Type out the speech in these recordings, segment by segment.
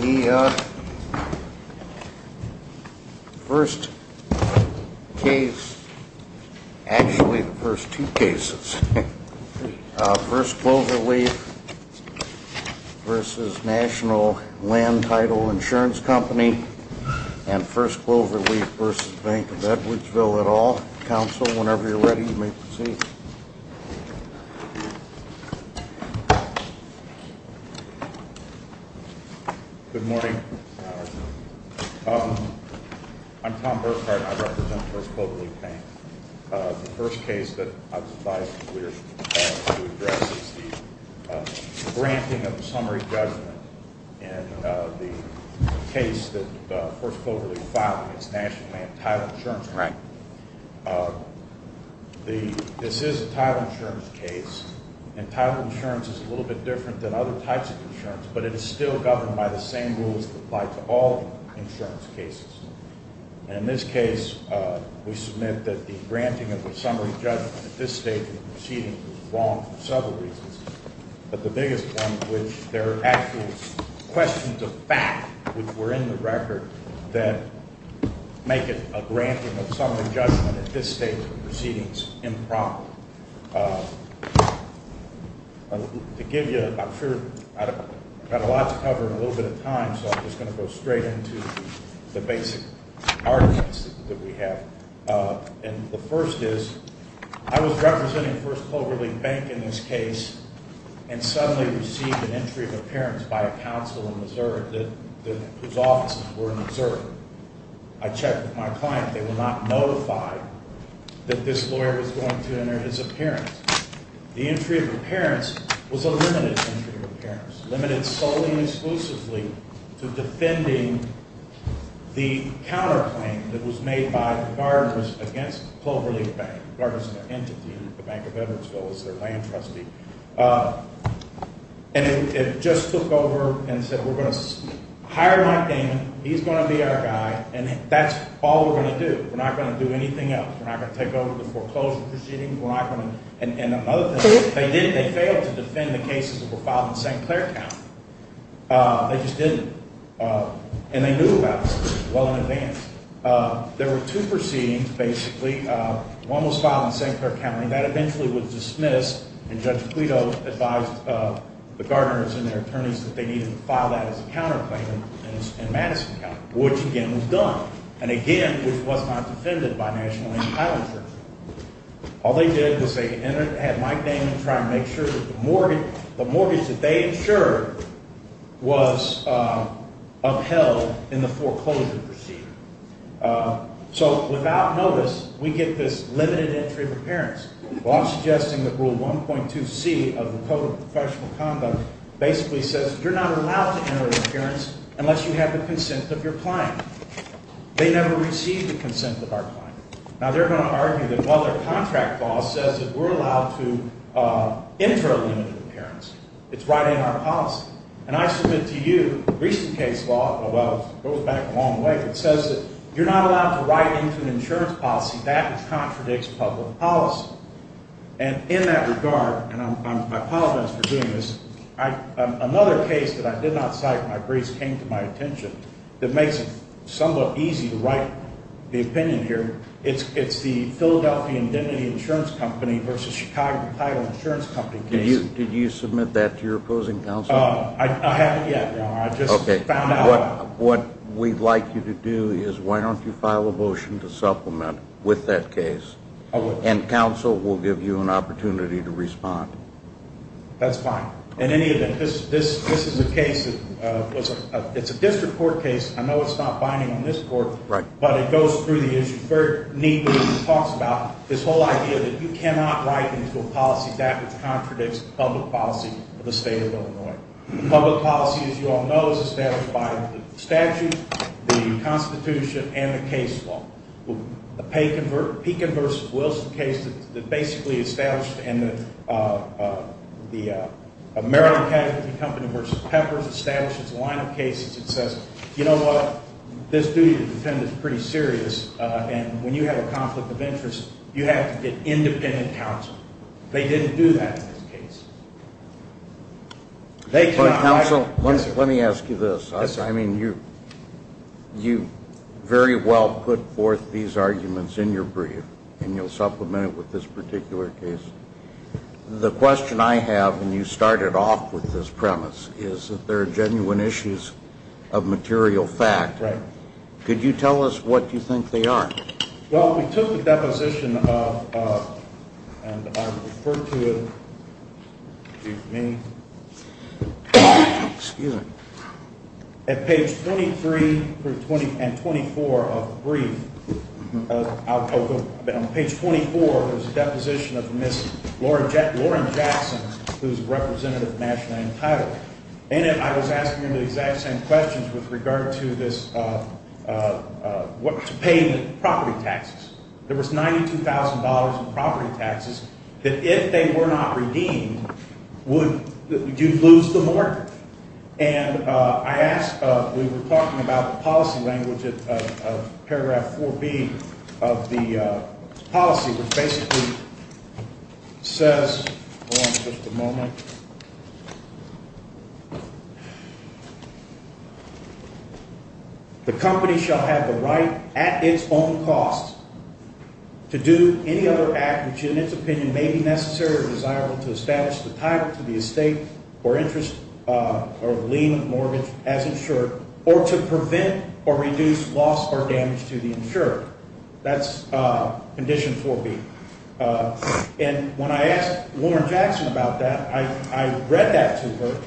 The first case, actually the first two cases, First Clover Leaf v. National Land Title Insurance Company and First Clover Leaf v. Bank of Edwardsville et al. Council, whenever you're ready, you may proceed. Good morning. I'm Tom Burkhardt. I represent First Clover Leaf Bank. The first case that I was advised to address is the granting of summary judgment in the case that First Clover Leaf v. National Land Title Insurance Company. This is a title insurance case, and title insurance is a little bit different than other types of insurance, but it is still governed by the same rules that apply to all insurance cases. In this case, we submit that the granting of the summary judgment at this stage in the proceeding was wrong for several reasons, but the biggest one, which there are actual questions of fact, which were in the record, that make it a granting of summary judgment at this stage in the proceedings improper. To give you, I'm sure I've got a lot to cover in a little bit of time, so I'm just going to go straight into the basic arguments that we have. The first is, I was representing First Clover Leaf Bank in this case and suddenly received an entry of appearance by a counsel in Missouri whose offices were in Missouri. I checked with my client. They were not notified that this lawyer was going to enter his appearance. The entry of appearance was a limited entry of appearance, limited solely and exclusively to defending the counterclaim that was made by the gardeners against Clover Leaf Bank, the gardeners and their entity, the Bank of Edwardsville as their land trustee. And it just took over and said, we're going to hire Mike Damon. He's going to be our guy, and that's all we're going to do. We're not going to do anything else. We're not going to take over the foreclosure proceedings. And another thing, they failed to defend the cases that were filed in St. Clair County. They just didn't. And they knew about this case well in advance. There were two proceedings, basically. One was filed in St. Clair County. That eventually was dismissed, and Judge Quito advised the gardeners and their attorneys that they needed to file that as a counterclaim in Madison County, which again was done, and again, which was not defended by National Indian Title Insurance. All they did was they had Mike Damon try and make sure that the mortgage that they insured was upheld in the foreclosure proceeding. So without notice, we get this limited entry of appearance. I'm suggesting that Rule 1.2C of the Code of Professional Conduct basically says you're not allowed to enter an appearance unless you have the consent of your client. They never received the consent of our client. Now, they're going to argue that while their contract law says that we're allowed to enter a limited appearance, it's right in our policy. And I submit to you a recent case law, well, it goes back a long way, that says that you're not allowed to write into an insurance policy. That contradicts public policy. And in that regard, and I apologize for doing this, another case that I did not cite when my briefs came to my attention that makes it somewhat easy to write the opinion here, it's the Philadelphia Indemnity Insurance Company versus Chicago Title Insurance Company case. Did you submit that to your opposing counsel? I haven't yet. Okay. I just found out. What we'd like you to do is why don't you file a motion to supplement with that case. I will. And counsel will give you an opportunity to respond. That's fine. In any event, this is a case that was a district court case. I know it's not binding on this court. Right. But it goes through the issue very neatly. It talks about this whole idea that you cannot write into a policy, that which contradicts public policy of the state of Illinois. Public policy, as you all know, is established by the statute, the Constitution, and the case law. The Pekin versus Wilson case that basically established in the American Casualty Company versus Peppers establishes a line of cases that says, you know what, this duty to defend is pretty serious, and when you have a conflict of interest, you have to get independent counsel. They didn't do that in this case. But, counsel, let me ask you this. I mean, you very well put forth these arguments in your brief, and you'll supplement it with this particular case. The question I have, and you started off with this premise, is that there are genuine issues of material fact. Right. Could you tell us what you think they are? Well, we took the deposition of, and I referred to it, excuse me, at page 23 and 24 of the brief, on page 24, there's a deposition of Ms. Lauren Jackson, who's a representative of National Anti-Drop. In it, I was asking her the exact same questions with regard to this payment of property taxes. There was $92,000 in property taxes that if they were not redeemed, would you lose the market? And I asked, we were talking about the policy language of paragraph 4B of the policy, which basically says, hold on just a moment, the company shall have the right at its own cost to do any other act which, in its opinion, may be necessary or desirable to establish the title to the estate or interest or lien mortgage as insured or to prevent or reduce loss or damage to the insured. That's condition 4B. And when I asked Lauren Jackson about that, I read that to her,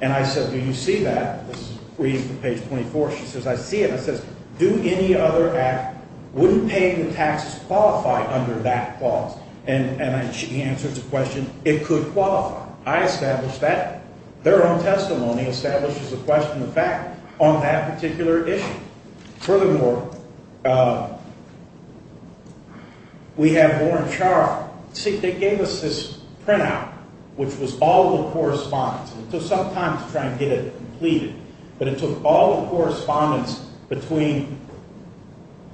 and I said, do you see that? This is brief from page 24. She says, I see it. It says, do any other act, would paying the taxes qualify under that clause? And she answered the question, it could qualify. I established that. Their own testimony establishes a question of fact on that particular issue. Furthermore, we have Lauren Scharf. See, they gave us this printout, which was all the correspondence. It took some time to try and get it completed, but it took all the correspondence between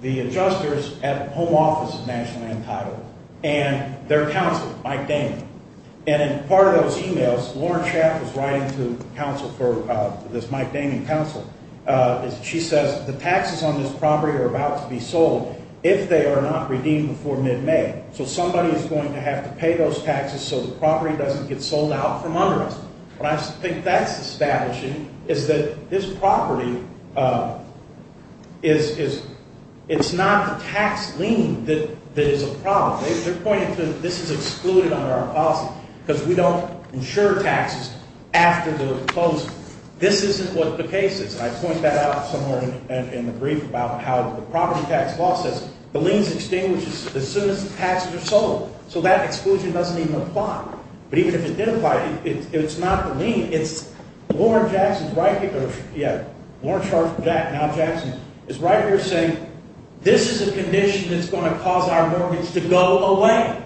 the adjusters at the Home Office of National Land Title and their counsel, Mike Damian. And in part of those e-mails, Lauren Scharf was writing to counsel for this Mike Damian counsel. She says, the taxes on this property are about to be sold if they are not redeemed before mid-May. So somebody is going to have to pay those taxes so the property doesn't get sold out from under us. What I think that's establishing is that this property is not a tax lien that is a problem. They're pointing to this is excluded under our policy because we don't insure taxes after the closing. This isn't what the case is. I point that out somewhere in the brief about how the property tax law says the lien is extinguished as soon as the taxes are sold. So that exclusion doesn't even apply. But even if it did apply, it's not the lien. It's Lauren Jackson's right here. Yeah, Lauren Scharf, now Jackson, is right here saying this is a condition that's going to cause our mortgage to go away.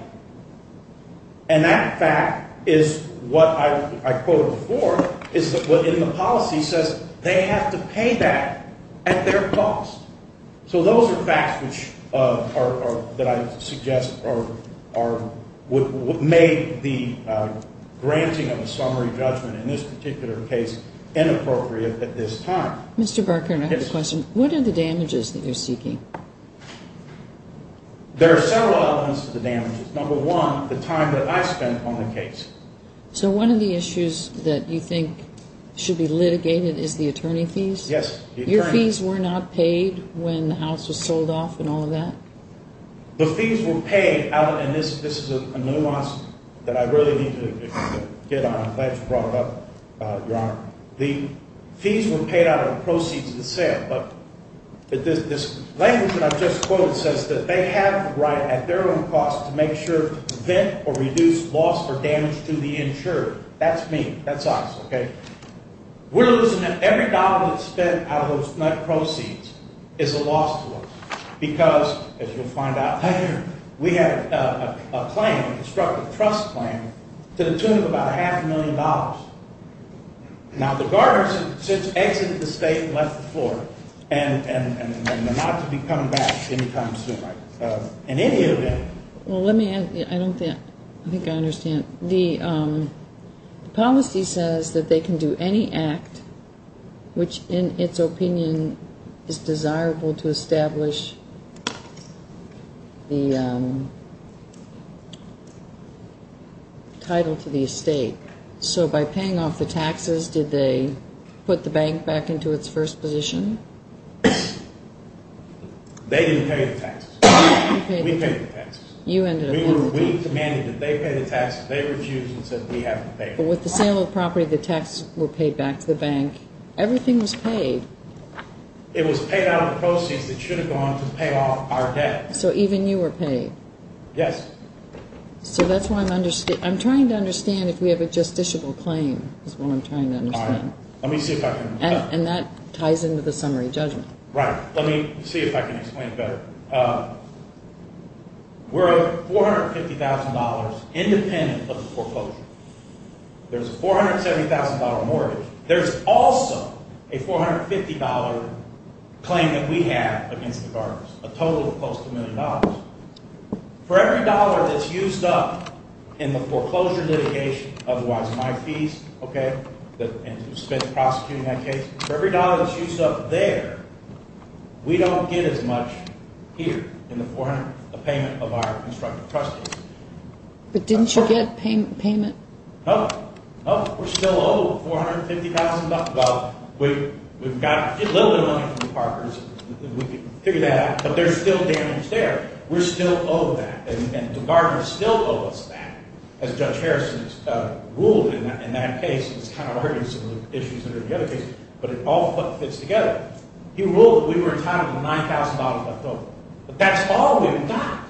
And that fact is what I quoted before is what in the policy says they have to pay that at their cost. So those are facts which are, that I suggest are, would make the granting of a summary judgment in this particular case inappropriate at this time. Mr. Berkman, I have a question. Yes. What are the damages that you're seeking? There are several elements to the damages. Number one, the time that I spent on the case. So one of the issues that you think should be litigated is the attorney fees? Yes. Your fees were not paid when the house was sold off and all of that? The fees were paid out, and this is a nuance that I really need to get on. I'm glad you brought it up, Your Honor. The fees were paid out of the proceeds of the sale, but this language that I've just quoted says that they have the right at their own cost to make sure to prevent or reduce loss or damage to the insurer. That's me. That's us, okay? We're losing every dollar that's spent out of those proceeds. It's a loss to us because, as you'll find out later, we have a claim, a constructive trust claim, to the tune of about half a million dollars. Now, the guard has since exited the estate and left the floor, and they're not to be coming back any time soon in any event. Well, let me add, I don't think I understand. The policy says that they can do any act which, in its opinion, is desirable to establish the title to the estate. So by paying off the taxes, did they put the bank back into its first position? They didn't pay the taxes. We paid the taxes. We commanded that they pay the taxes. They refused and said we have to pay the taxes. But with the sale of the property, the taxes were paid back to the bank. Everything was paid. It was paid out of the proceeds that should have gone to pay off our debt. So even you were paid. Yes. So that's why I'm trying to understand if we have a justiciable claim is what I'm trying to understand. And that ties into the summary judgment. Right. Let me see if I can explain it better. We're $450,000 independent of the foreclosure. There's a $470,000 mortgage. There's also a $450 claim that we have against the guards, a total of close to a million dollars. For every dollar that's used up in the foreclosure litigation, otherwise my fees, okay, and who spends prosecuting that case, for every dollar that's used up there, we don't get as much here in the payment of our constructive trustees. But didn't you get payment? No. We're still owed $450,000. We've got a little bit of money from the parkers. We can figure that out. But there's still damage there. We're still owed that. And the guards still owe us that. As Judge Harrison has ruled in that case. It's kind of hard in some of the issues that are in the other cases. But it all fits together. He ruled that we were entitled to $9,000 left over. But that's all we've got.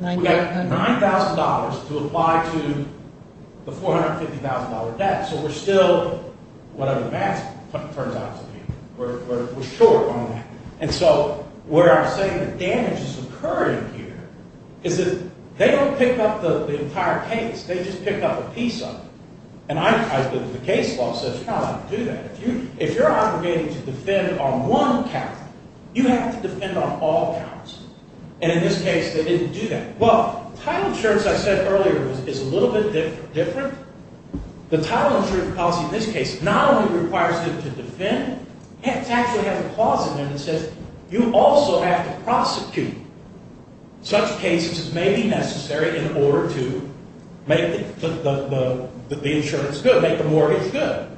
We've got $9,000 to apply to the $450,000 debt. So we're still, whatever the math turns out to be, we're short on that. And so where I'm saying the damage is occurring here is that they don't pick up the entire case. They just pick up a piece of it. And the case law says you cannot do that. If you're obligated to defend on one count, you have to defend on all counts. And in this case, they didn't do that. Well, title insurance, I said earlier, is a little bit different. The title insurance policy in this case not only requires them to defend. It actually has a clause in there that says you also have to prosecute such cases as may be necessary in order to make the insurance good, make the mortgage good.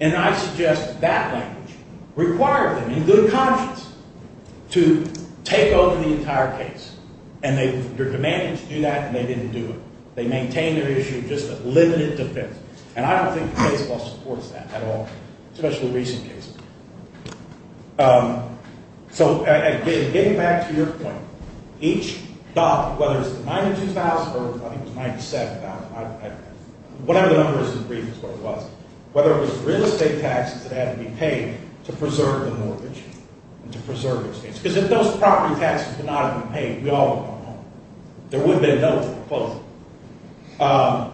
And I suggest that language required them in good conscience to take over the entire case. And they're demanding to do that, and they didn't do it. They maintain their issue of just a limited defense. And I don't think the case law supports that at all, especially recent cases. So getting back to your point, each doc, whether it's the $92,000 or I think it was $97,000, whatever the number is in brief is what it was, whether it was real estate taxes that had to be paid to preserve the mortgage and to preserve the case. Because if those property taxes did not have been paid, we all would have gone home. There would have been no foreclosure.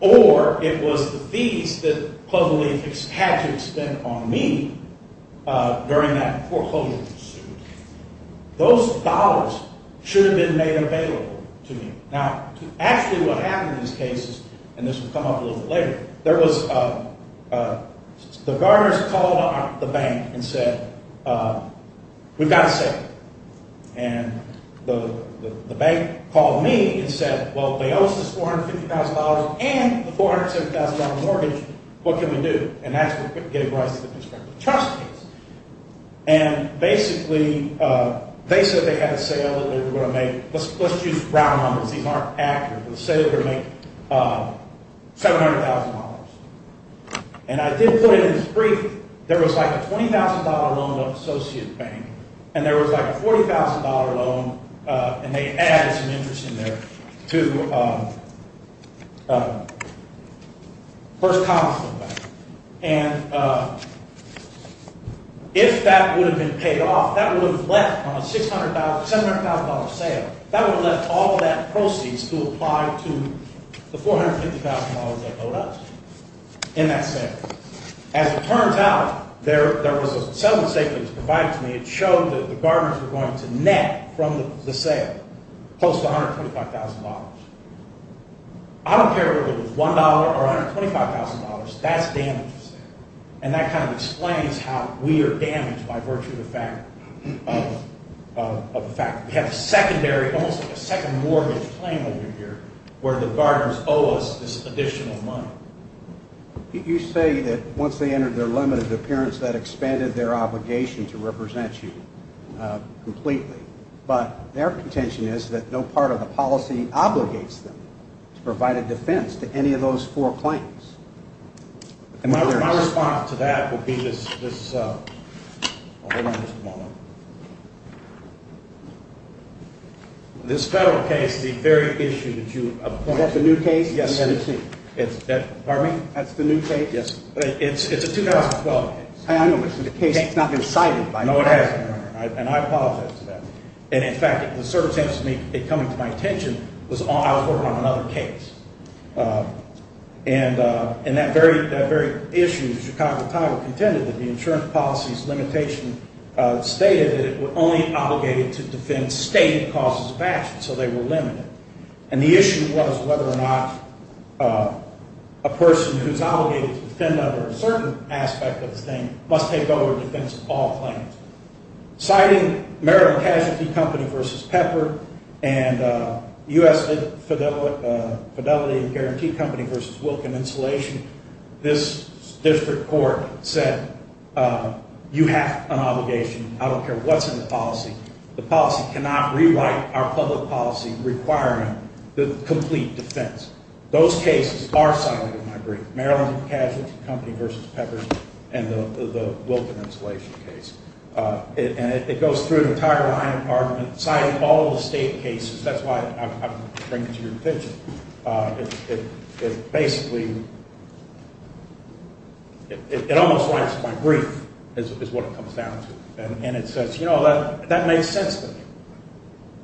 Or it was the fees that closed-relief had to expend on me during that foreclosure pursuit. Those dollars should have been made available to me. Now, actually what happened in these cases, and this will come up a little bit later, there was the gardeners called on the bank and said, we've got to settle. And the bank called me and said, well, if they owe us this $450,000 and the $470,000 mortgage, what can we do? And that's what gave rise to the trust case. And basically they said they had a sale that they were going to make. Let's use round numbers. These aren't accurate. They said they were going to make $700,000. And I did put it in this brief. There was like a $20,000 loan to an associate bank. And there was like a $40,000 loan, and they added some interest in there, to First Constable Bank. And if that would have been paid off, that would have left on a $700,000 sale, that would have left all that proceeds to apply to the $450,000 that owed us in that sale. As it turns out, there was a settlement statement that was provided to me. It showed that the gardeners were going to net from the sale close to $125,000. I don't care whether it was $1 or $125,000. That's damage to sale. And that kind of explains how we are damaged by virtue of the fact that we have a secondary, almost like a second mortgage claim over here where the gardeners owe us this additional money. You say that once they entered their limited appearance, that expanded their obligation to represent you completely. But their contention is that no part of the policy obligates them to provide a defense to any of those four claims. My response to that would be this federal case, the very issue that you pointed out. Is that the new case? Yes. Pardon me? That's the new case? Yes. It's a 2012 case. I know, but the case has not been cited. No, it hasn't. And I apologize for that. And, in fact, the circumstances of it coming to my attention was I was working on another case. And that very issue, the Chicago Tiger contended that the insurance policy's limitation stated that it was only obligated to defend stated causes of action, so they were limited. And the issue was whether or not a person who's obligated to defend under a certain aspect of the thing must take over defense of all claims. Citing Merit and Casualty Company v. Pepper and U.S. Fidelity and Guarantee Company v. Wilkin Insulation, this district court said you have an obligation. The policy cannot rewrite our public policy requiring the complete defense. Those cases are cited in my brief, Merit and Casualty Company v. Pepper and the Wilkin Insulation case. And it goes through the entire line of argument, citing all the state cases. That's why I'm bringing it to your attention. It basically, it almost writes my brief is what it comes down to. And it says, you know, that makes sense to me.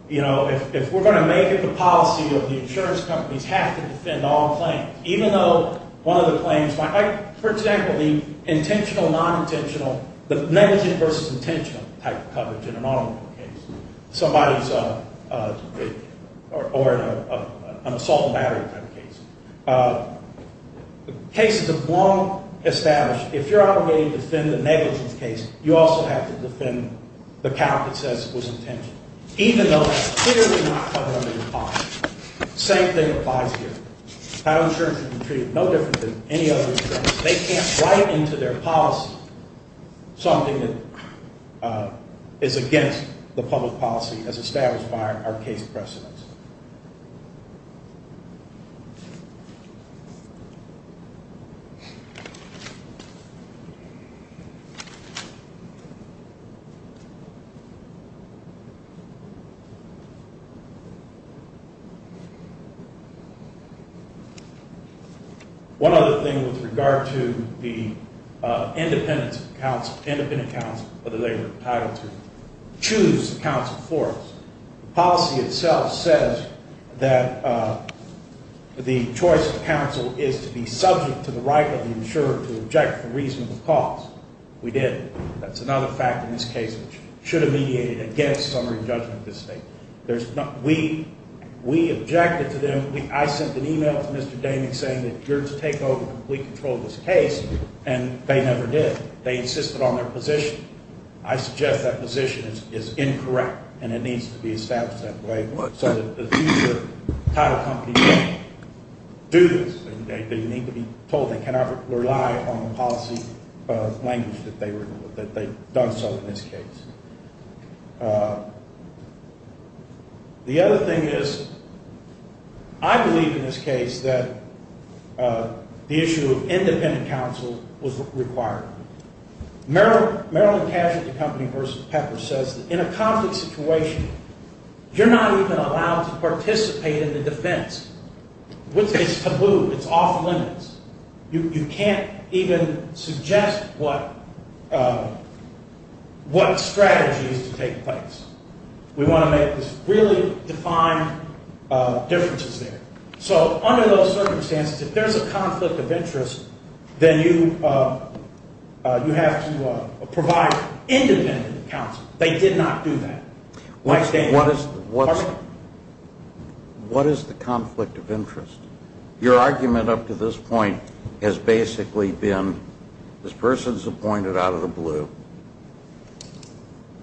You know, if we're going to make it the policy of the insurance companies have to defend all claims, even though one of the claims might be, for example, the intentional, non-intentional, the negligent versus intentional type of coverage in an automobile case, somebody's, or an assault and battery type of case. Cases have long established if you're obligated to defend the negligent case, you also have to defend the count that says it was intentional, even though it's clearly not covered under your policy. Same thing applies here. Title insurance can be treated no different than any other insurance. They can't write into their policy something that is against the public policy as established by our case precedents. One other thing with regard to the independent counsel, independent counsel, whether they were entitled to choose counsel for us. Policy itself says that the choice of counsel is to be subject to the right of the insurer to object for reasonable cause. We did. That's another fact in this case. It should have mediated against summary judgment of this case. We objected to them. I sent an email to Mr. Damien saying that you're to take over complete control of this case, and they never did. They insisted on their position. I suggest that position is incorrect, and it needs to be established that way so that the future title companies can't do this. They need to be told they cannot rely on the policy language that they've done so in this case. The other thing is I believe in this case that the issue of independent counsel was required. Maryland Casualty Company versus Pepper says that in a conflict situation, you're not even allowed to participate in the defense. It's taboo. It's off limits. You can't even suggest what strategy is to take place. We want to make this really defined differences there. So under those circumstances, if there's a conflict of interest, then you have to provide independent counsel. They did not do that. What is the conflict of interest? Your argument up to this point has basically been this person's appointed out of the blue.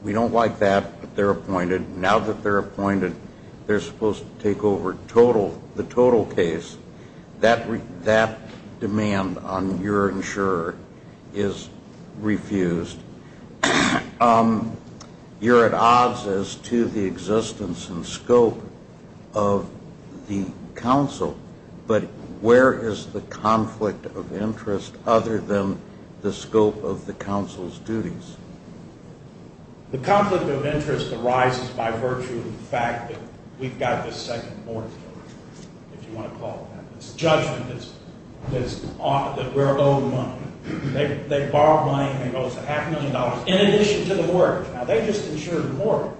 We don't like that, but they're appointed. Now that they're appointed, they're supposed to take over the total case. That demand on your insurer is refused. You're at odds as to the existence and scope of the counsel, but where is the conflict of interest other than the scope of the counsel's duties? The conflict of interest arises by virtue of the fact that we've got this second mortgage, if you want to call it that, this judgment that we're owed money. They borrowed money and they owe us a half million dollars in addition to the mortgage. Now, they just insured the mortgage.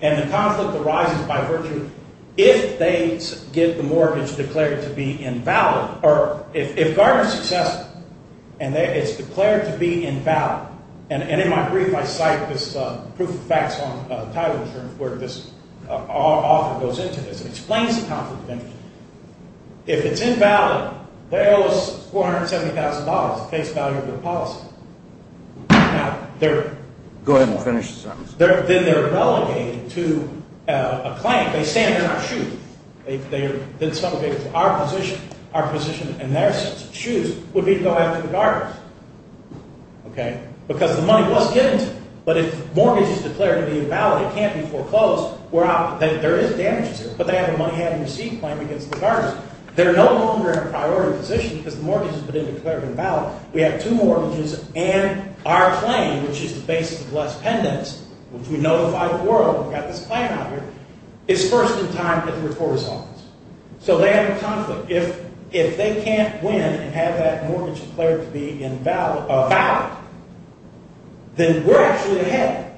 And the conflict arises by virtue if they get the mortgage declared to be invalid or if Gardner's successful and it's declared to be invalid. And in my brief, I cite this proof of facts on title insurance where this author goes into this and explains the conflict of interest. If it's invalid, they owe us $470,000, the case value of the policy. Now, they're... Go ahead and finish, sir. Then they're relegated to a claim. They stand in our shoes. They're then relegated to our position. Our position in their shoes would be to go after the Gardners, okay, because the money was given to them. But if the mortgage is declared to be invalid, it can't be foreclosed. There is damage to it, but they have a money-having receipt claim against the Gardners. They're no longer in a priority position because the mortgage has been declared invalid. We have two mortgages, and our claim, which is the basis of less pendants, which we know the fight of the world, we've got this plan out here, is first in time at the reporter's office. So they have a conflict. If they can't win and have that mortgage declared to be invalid, then we're actually ahead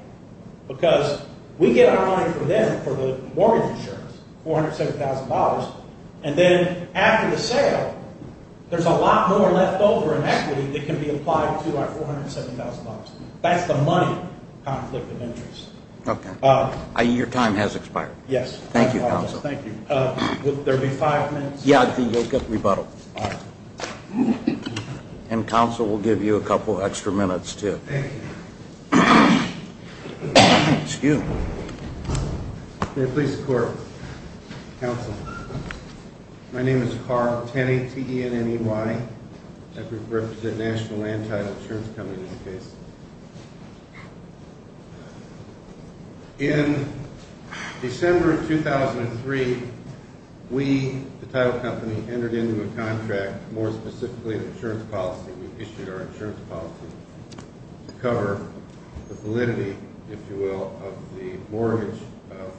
because we get our money from them for the mortgage insurance, $470,000, and then after the sale, there's a lot more left over in equity that can be applied to our $470,000. That's the money conflict of interest. Okay. Your time has expired. Yes. Thank you, counsel. Thank you. Would there be five minutes? Yeah, I think you'll get rebuttal. All right. And counsel will give you a couple extra minutes, too. Thank you. Excuse me. May it please the Court. Counsel, my name is Carl Tenney, T-E-N-N-E-Y. I represent National Land Title Insurance Company in this case. In December of 2003, we, the title company, entered into a contract, more specifically an insurance policy. We issued our insurance policy to cover the validity, if you will, of the mortgage of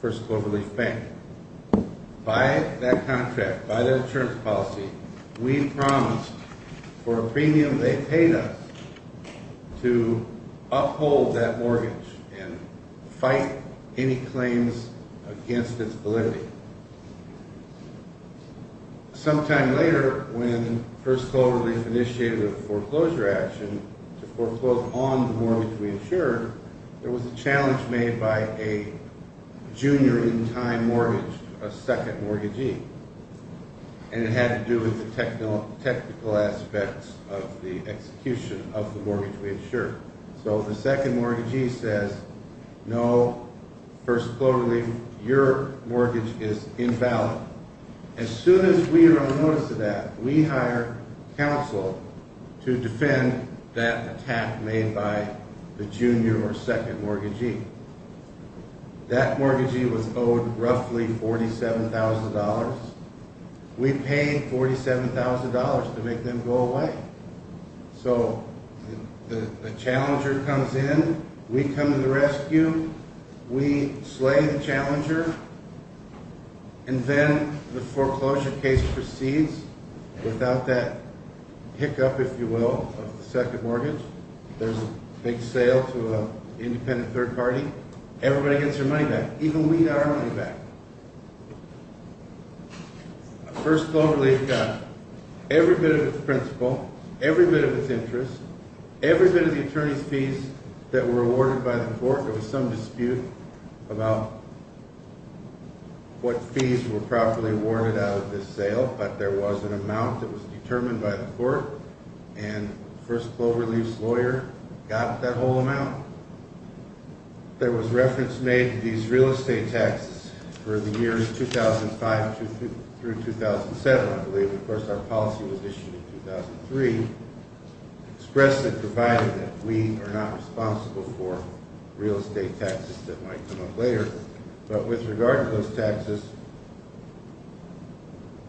First Global Relief Bank. By that contract, by that insurance policy, we promised for a premium they paid us to uphold that mortgage and fight any claims against its validity. Sometime later, when First Global Relief initiated a foreclosure action to foreclose on the mortgage we insured, there was a challenge made by a junior in-time mortgage, a second mortgagee, and it had to do with the technical aspects of the execution of the mortgage we insured. So the second mortgagee says, no, First Global Relief, your mortgage is invalid. As soon as we are on notice of that, we hire counsel to defend that attack made by the junior or second mortgagee. That mortgagee was owed roughly $47,000. We paid $47,000 to make them go away. So the challenger comes in, we come to the rescue, we slay the challenger, and then the foreclosure case proceeds without that hiccup, if you will, of the second mortgage. There's a big sale to an independent third party. Everybody gets their money back, even we got our money back. First Global Relief got every bit of its principal, every bit of its interest, every bit of the attorney's fees that were awarded by the court. There was some dispute about what fees were properly awarded out of this sale, but there was an amount that was determined by the court, and First Global Relief's lawyer got that whole amount. There was reference made to these real estate taxes for the years 2005 through 2007, I believe. Of course, our policy was issued in 2003. Express had provided that we are not responsible for real estate taxes that might come up later, but with regard to those taxes,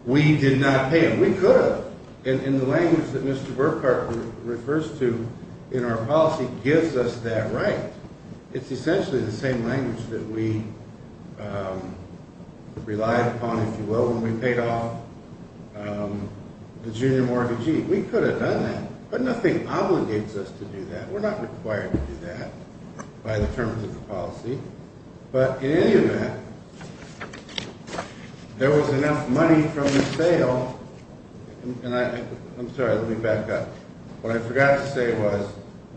we did not pay them. We could have. And the language that Mr. Burkhart refers to in our policy gives us that right. It's essentially the same language that we relied upon, if you will, when we paid off the junior mortgagee. We could have done that, but nothing obligates us to do that. We're not required to do that by the terms of the policy. But in any event, there was enough money from the sale, and I'm sorry, let me back up. What I forgot to say was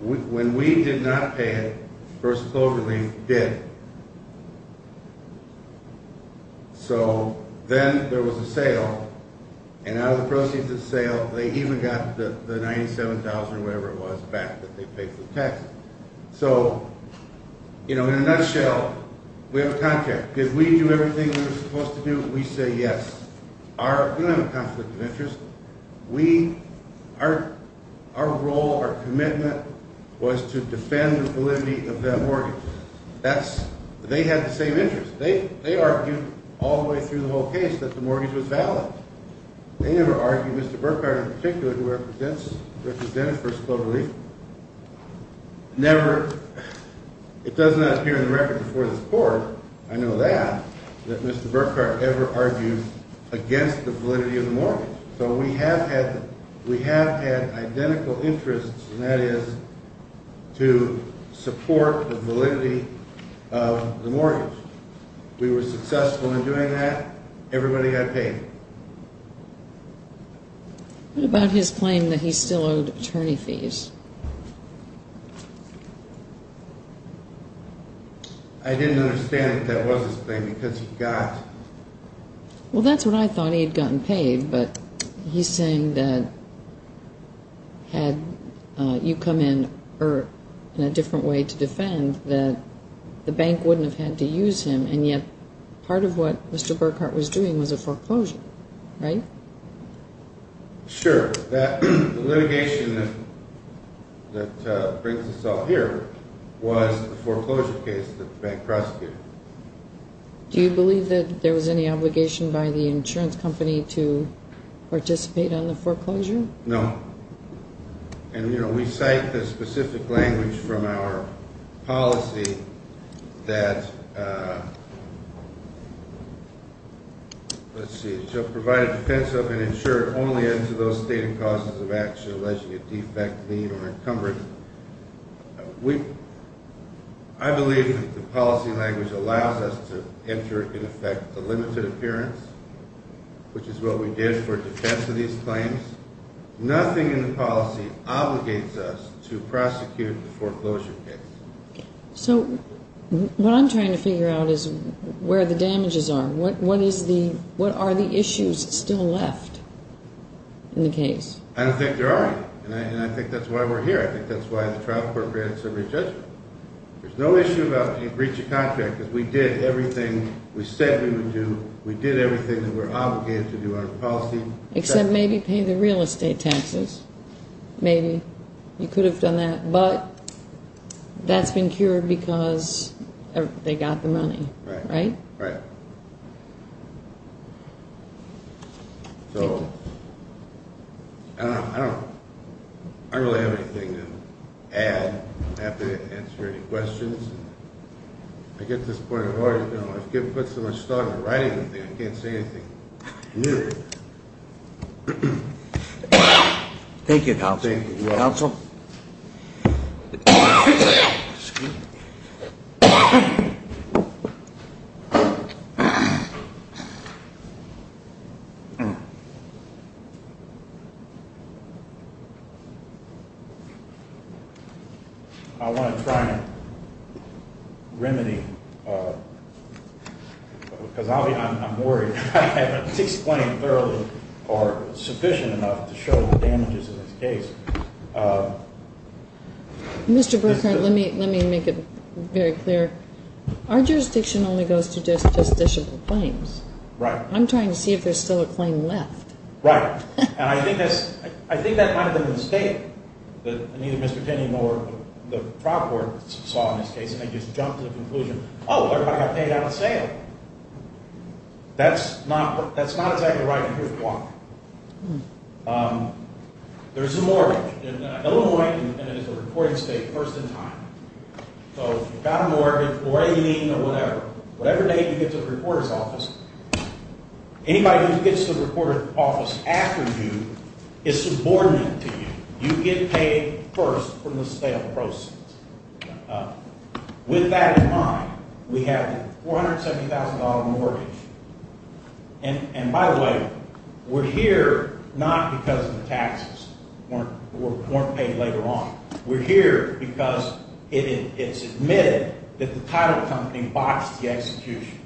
when we did not pay it, First Global Relief did. So then there was a sale, and out of the proceeds of the sale, they even got the $97,000 or whatever it was back that they paid for the taxes. So, you know, in a nutshell, we have a contract. Did we do everything we were supposed to do? We say yes. We don't have a conflict of interest. Our role, our commitment was to defend the validity of that mortgage. They had the same interest. They argued all the way through the whole case that the mortgage was valid. They never argued, Mr. Burkhart in particular, who represents First Global Relief, never, it does not appear in the record before this court, I know that, that Mr. Burkhart ever argued against the validity of the mortgage. So we have had identical interests, and that is to support the validity of the mortgage. We were successful in doing that. Everybody got paid. What about his claim that he still owed attorney fees? I didn't understand if that was his claim, because he got… Well, that's what I thought. He had gotten paid, but he's saying that had you come in in a different way to defend, that the bank wouldn't have had to use him, and yet part of what Mr. Burkhart was doing was a foreclosure, right? Sure. The litigation that brings us all here was the foreclosure case that the bank prosecuted. Do you believe that there was any obligation by the insurance company to participate on the foreclosure? No. And, you know, we cite the specific language from our policy that, let's see, shall provide a defense of and insure only unto those stating causes of action alleging a defect, lien, or encumbrance. I believe that the policy language allows us to enter, in effect, the limited appearance, which is what we did for defense of these claims. Nothing in the policy obligates us to prosecute the foreclosure case. So what I'm trying to figure out is where the damages are. What are the issues still left in the case? I don't think there are any, and I think that's why we're here. I think that's why the trial court grants are rejected. There's no issue about breach of contract because we did everything we said we would do. We did everything that we're obligated to do on the policy. Except maybe pay the real estate taxes. Maybe you could have done that, but that's been cured because they got the money, right? Right. So, I don't really have anything to add. I don't have to answer any questions. I get this point of order, you know, I can't put so much thought into writing anything. I can't say anything. Thank you, counsel. I want to try and remedy, because I'm worried I haven't explained thoroughly or sufficient enough to show the damages in this case. Mr. Burkhart, let me make it very clear. Our jurisdiction only goes to justiciable claims. Right. I'm trying to see if there's still a claim left. Right. And I think that might have been a mistake that neither Mr. Tinney nor the trial court saw in this case, and they just jumped to the conclusion, oh, everybody got paid out of sale. That's not exactly right, and here's why. There's a mortgage in Illinois, and it is a reporting state, first in time. So, you've got a mortgage, whatever you need or whatever. Whatever date you get to the reporter's office, anybody who gets to the reporter's office after you is subordinate to you. You get paid first from the sale proceeds. With that in mind, we have a $470,000 mortgage, and by the way, we're here not because of the taxes weren't paid later on. We're here because it's admitted that the title company boxed the execution.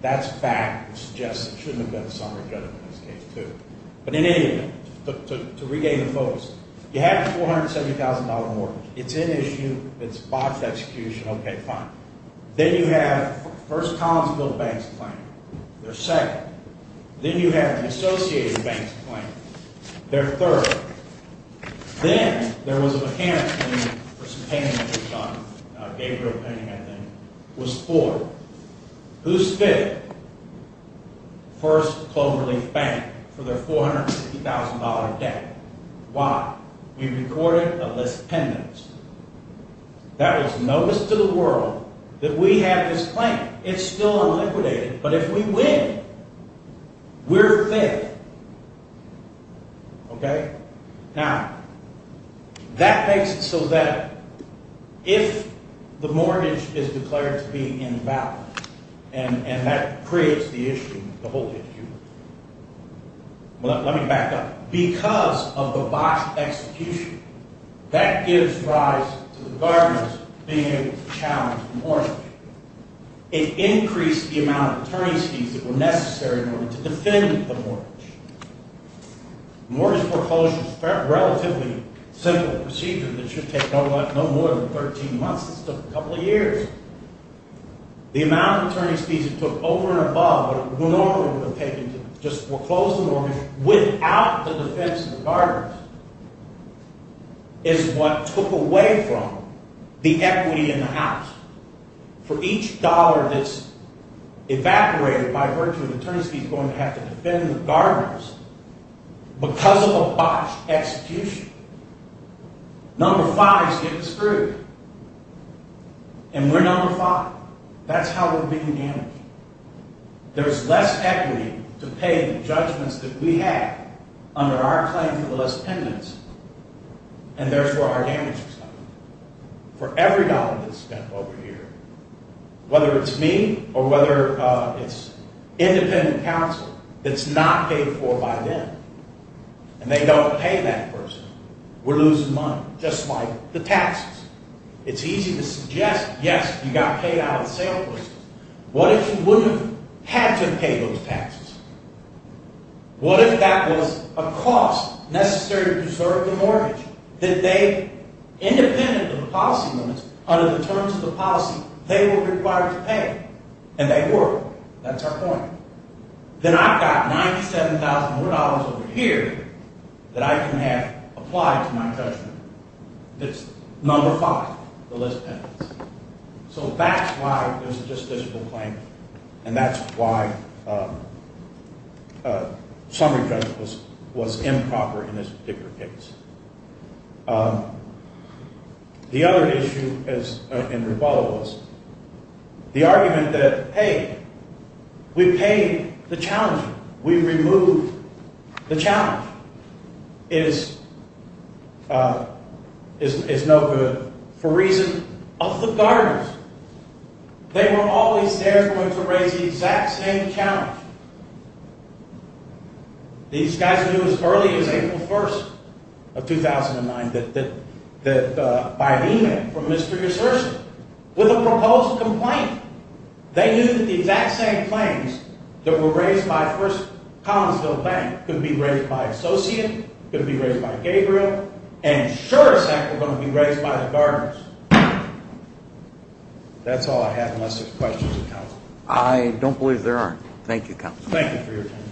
That's fact. It suggests it shouldn't have been a summary judgment in this case, too. But in any event, to regain the focus, you have a $470,000 mortgage. It's in issue. It's boxed execution. Okay, fine. Then you have, first, Collinsville, the bank's claim. They're second. Then you have the Associated Bank's claim. They're third. Then there was a mechanic's claim for some painting that was done, a Gabriel painting, I think. It was fourth. Who's fifth? First, Cloverleaf Bank, for their $450,000 debt. Why? We recorded a list of pendants. That was notice to the world that we have this claim. It's still unliquidated, but if we win, we're fifth. Okay? Now, that makes it so that if the mortgage is declared to be in balance, and that creates the issue, the whole issue. Well, let me back up. Because of the boxed execution, that gives rise to the gardeners being able to challenge the mortgage. It increased the amount of attorney's fees that were necessary in order to defend the mortgage. Mortgage foreclosure is a relatively simple procedure that should take no more than 13 months. It took a couple of years. The amount of attorney's fees it took over and above what it would normally have taken to just foreclose the mortgage without the defense of the gardeners is what took away from the equity in the house. For each dollar that's evaporated by virtue of attorney's fees going to have to defend the gardeners, because of a botched execution, number five is getting screwed. And we're number five. That's how we're being damaged. There's less equity to pay the judgments that we have under our claim for the list of pendants, and therefore our damages. For every dollar that's spent over here, whether it's me or whether it's independent counsel that's not paid for by them, and they don't pay that person, we're losing money. Just like the taxes. It's easy to suggest, yes, you got paid out of the sale person. What if you wouldn't have had to pay those taxes? What if that was a cost necessary to preserve the mortgage? Did they, independent of the policy limits, under the terms of the policy, they were required to pay? And they were. That's our point. Then I've got $97,000 more dollars over here that I can have applied to my judgment. That's number five, the list of pendants. So that's why it was a justiciable claim, and that's why summary judgment was improper in this particular case. The other issue, as Andrew Butler was, the argument that, hey, we paid the challenger, we removed the challenger, is no good for reason of the gardeners. They were always there going to raise the exact same challenge. These guys knew as early as April 1st of 2009 that, by email from Mr. Yersurson, with a proposed complaint, they knew that the exact same claims that were raised by First Collinsville Bank could be raised by Associate, could be raised by Gabriel, and sure as heck were going to be raised by the gardeners. That's all I have unless there's questions of counsel. I don't believe there aren't. Thank you, counsel. Thank you for your time.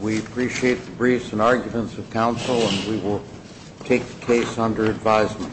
We appreciate the briefs and arguments of counsel, and we will take the case under advisement.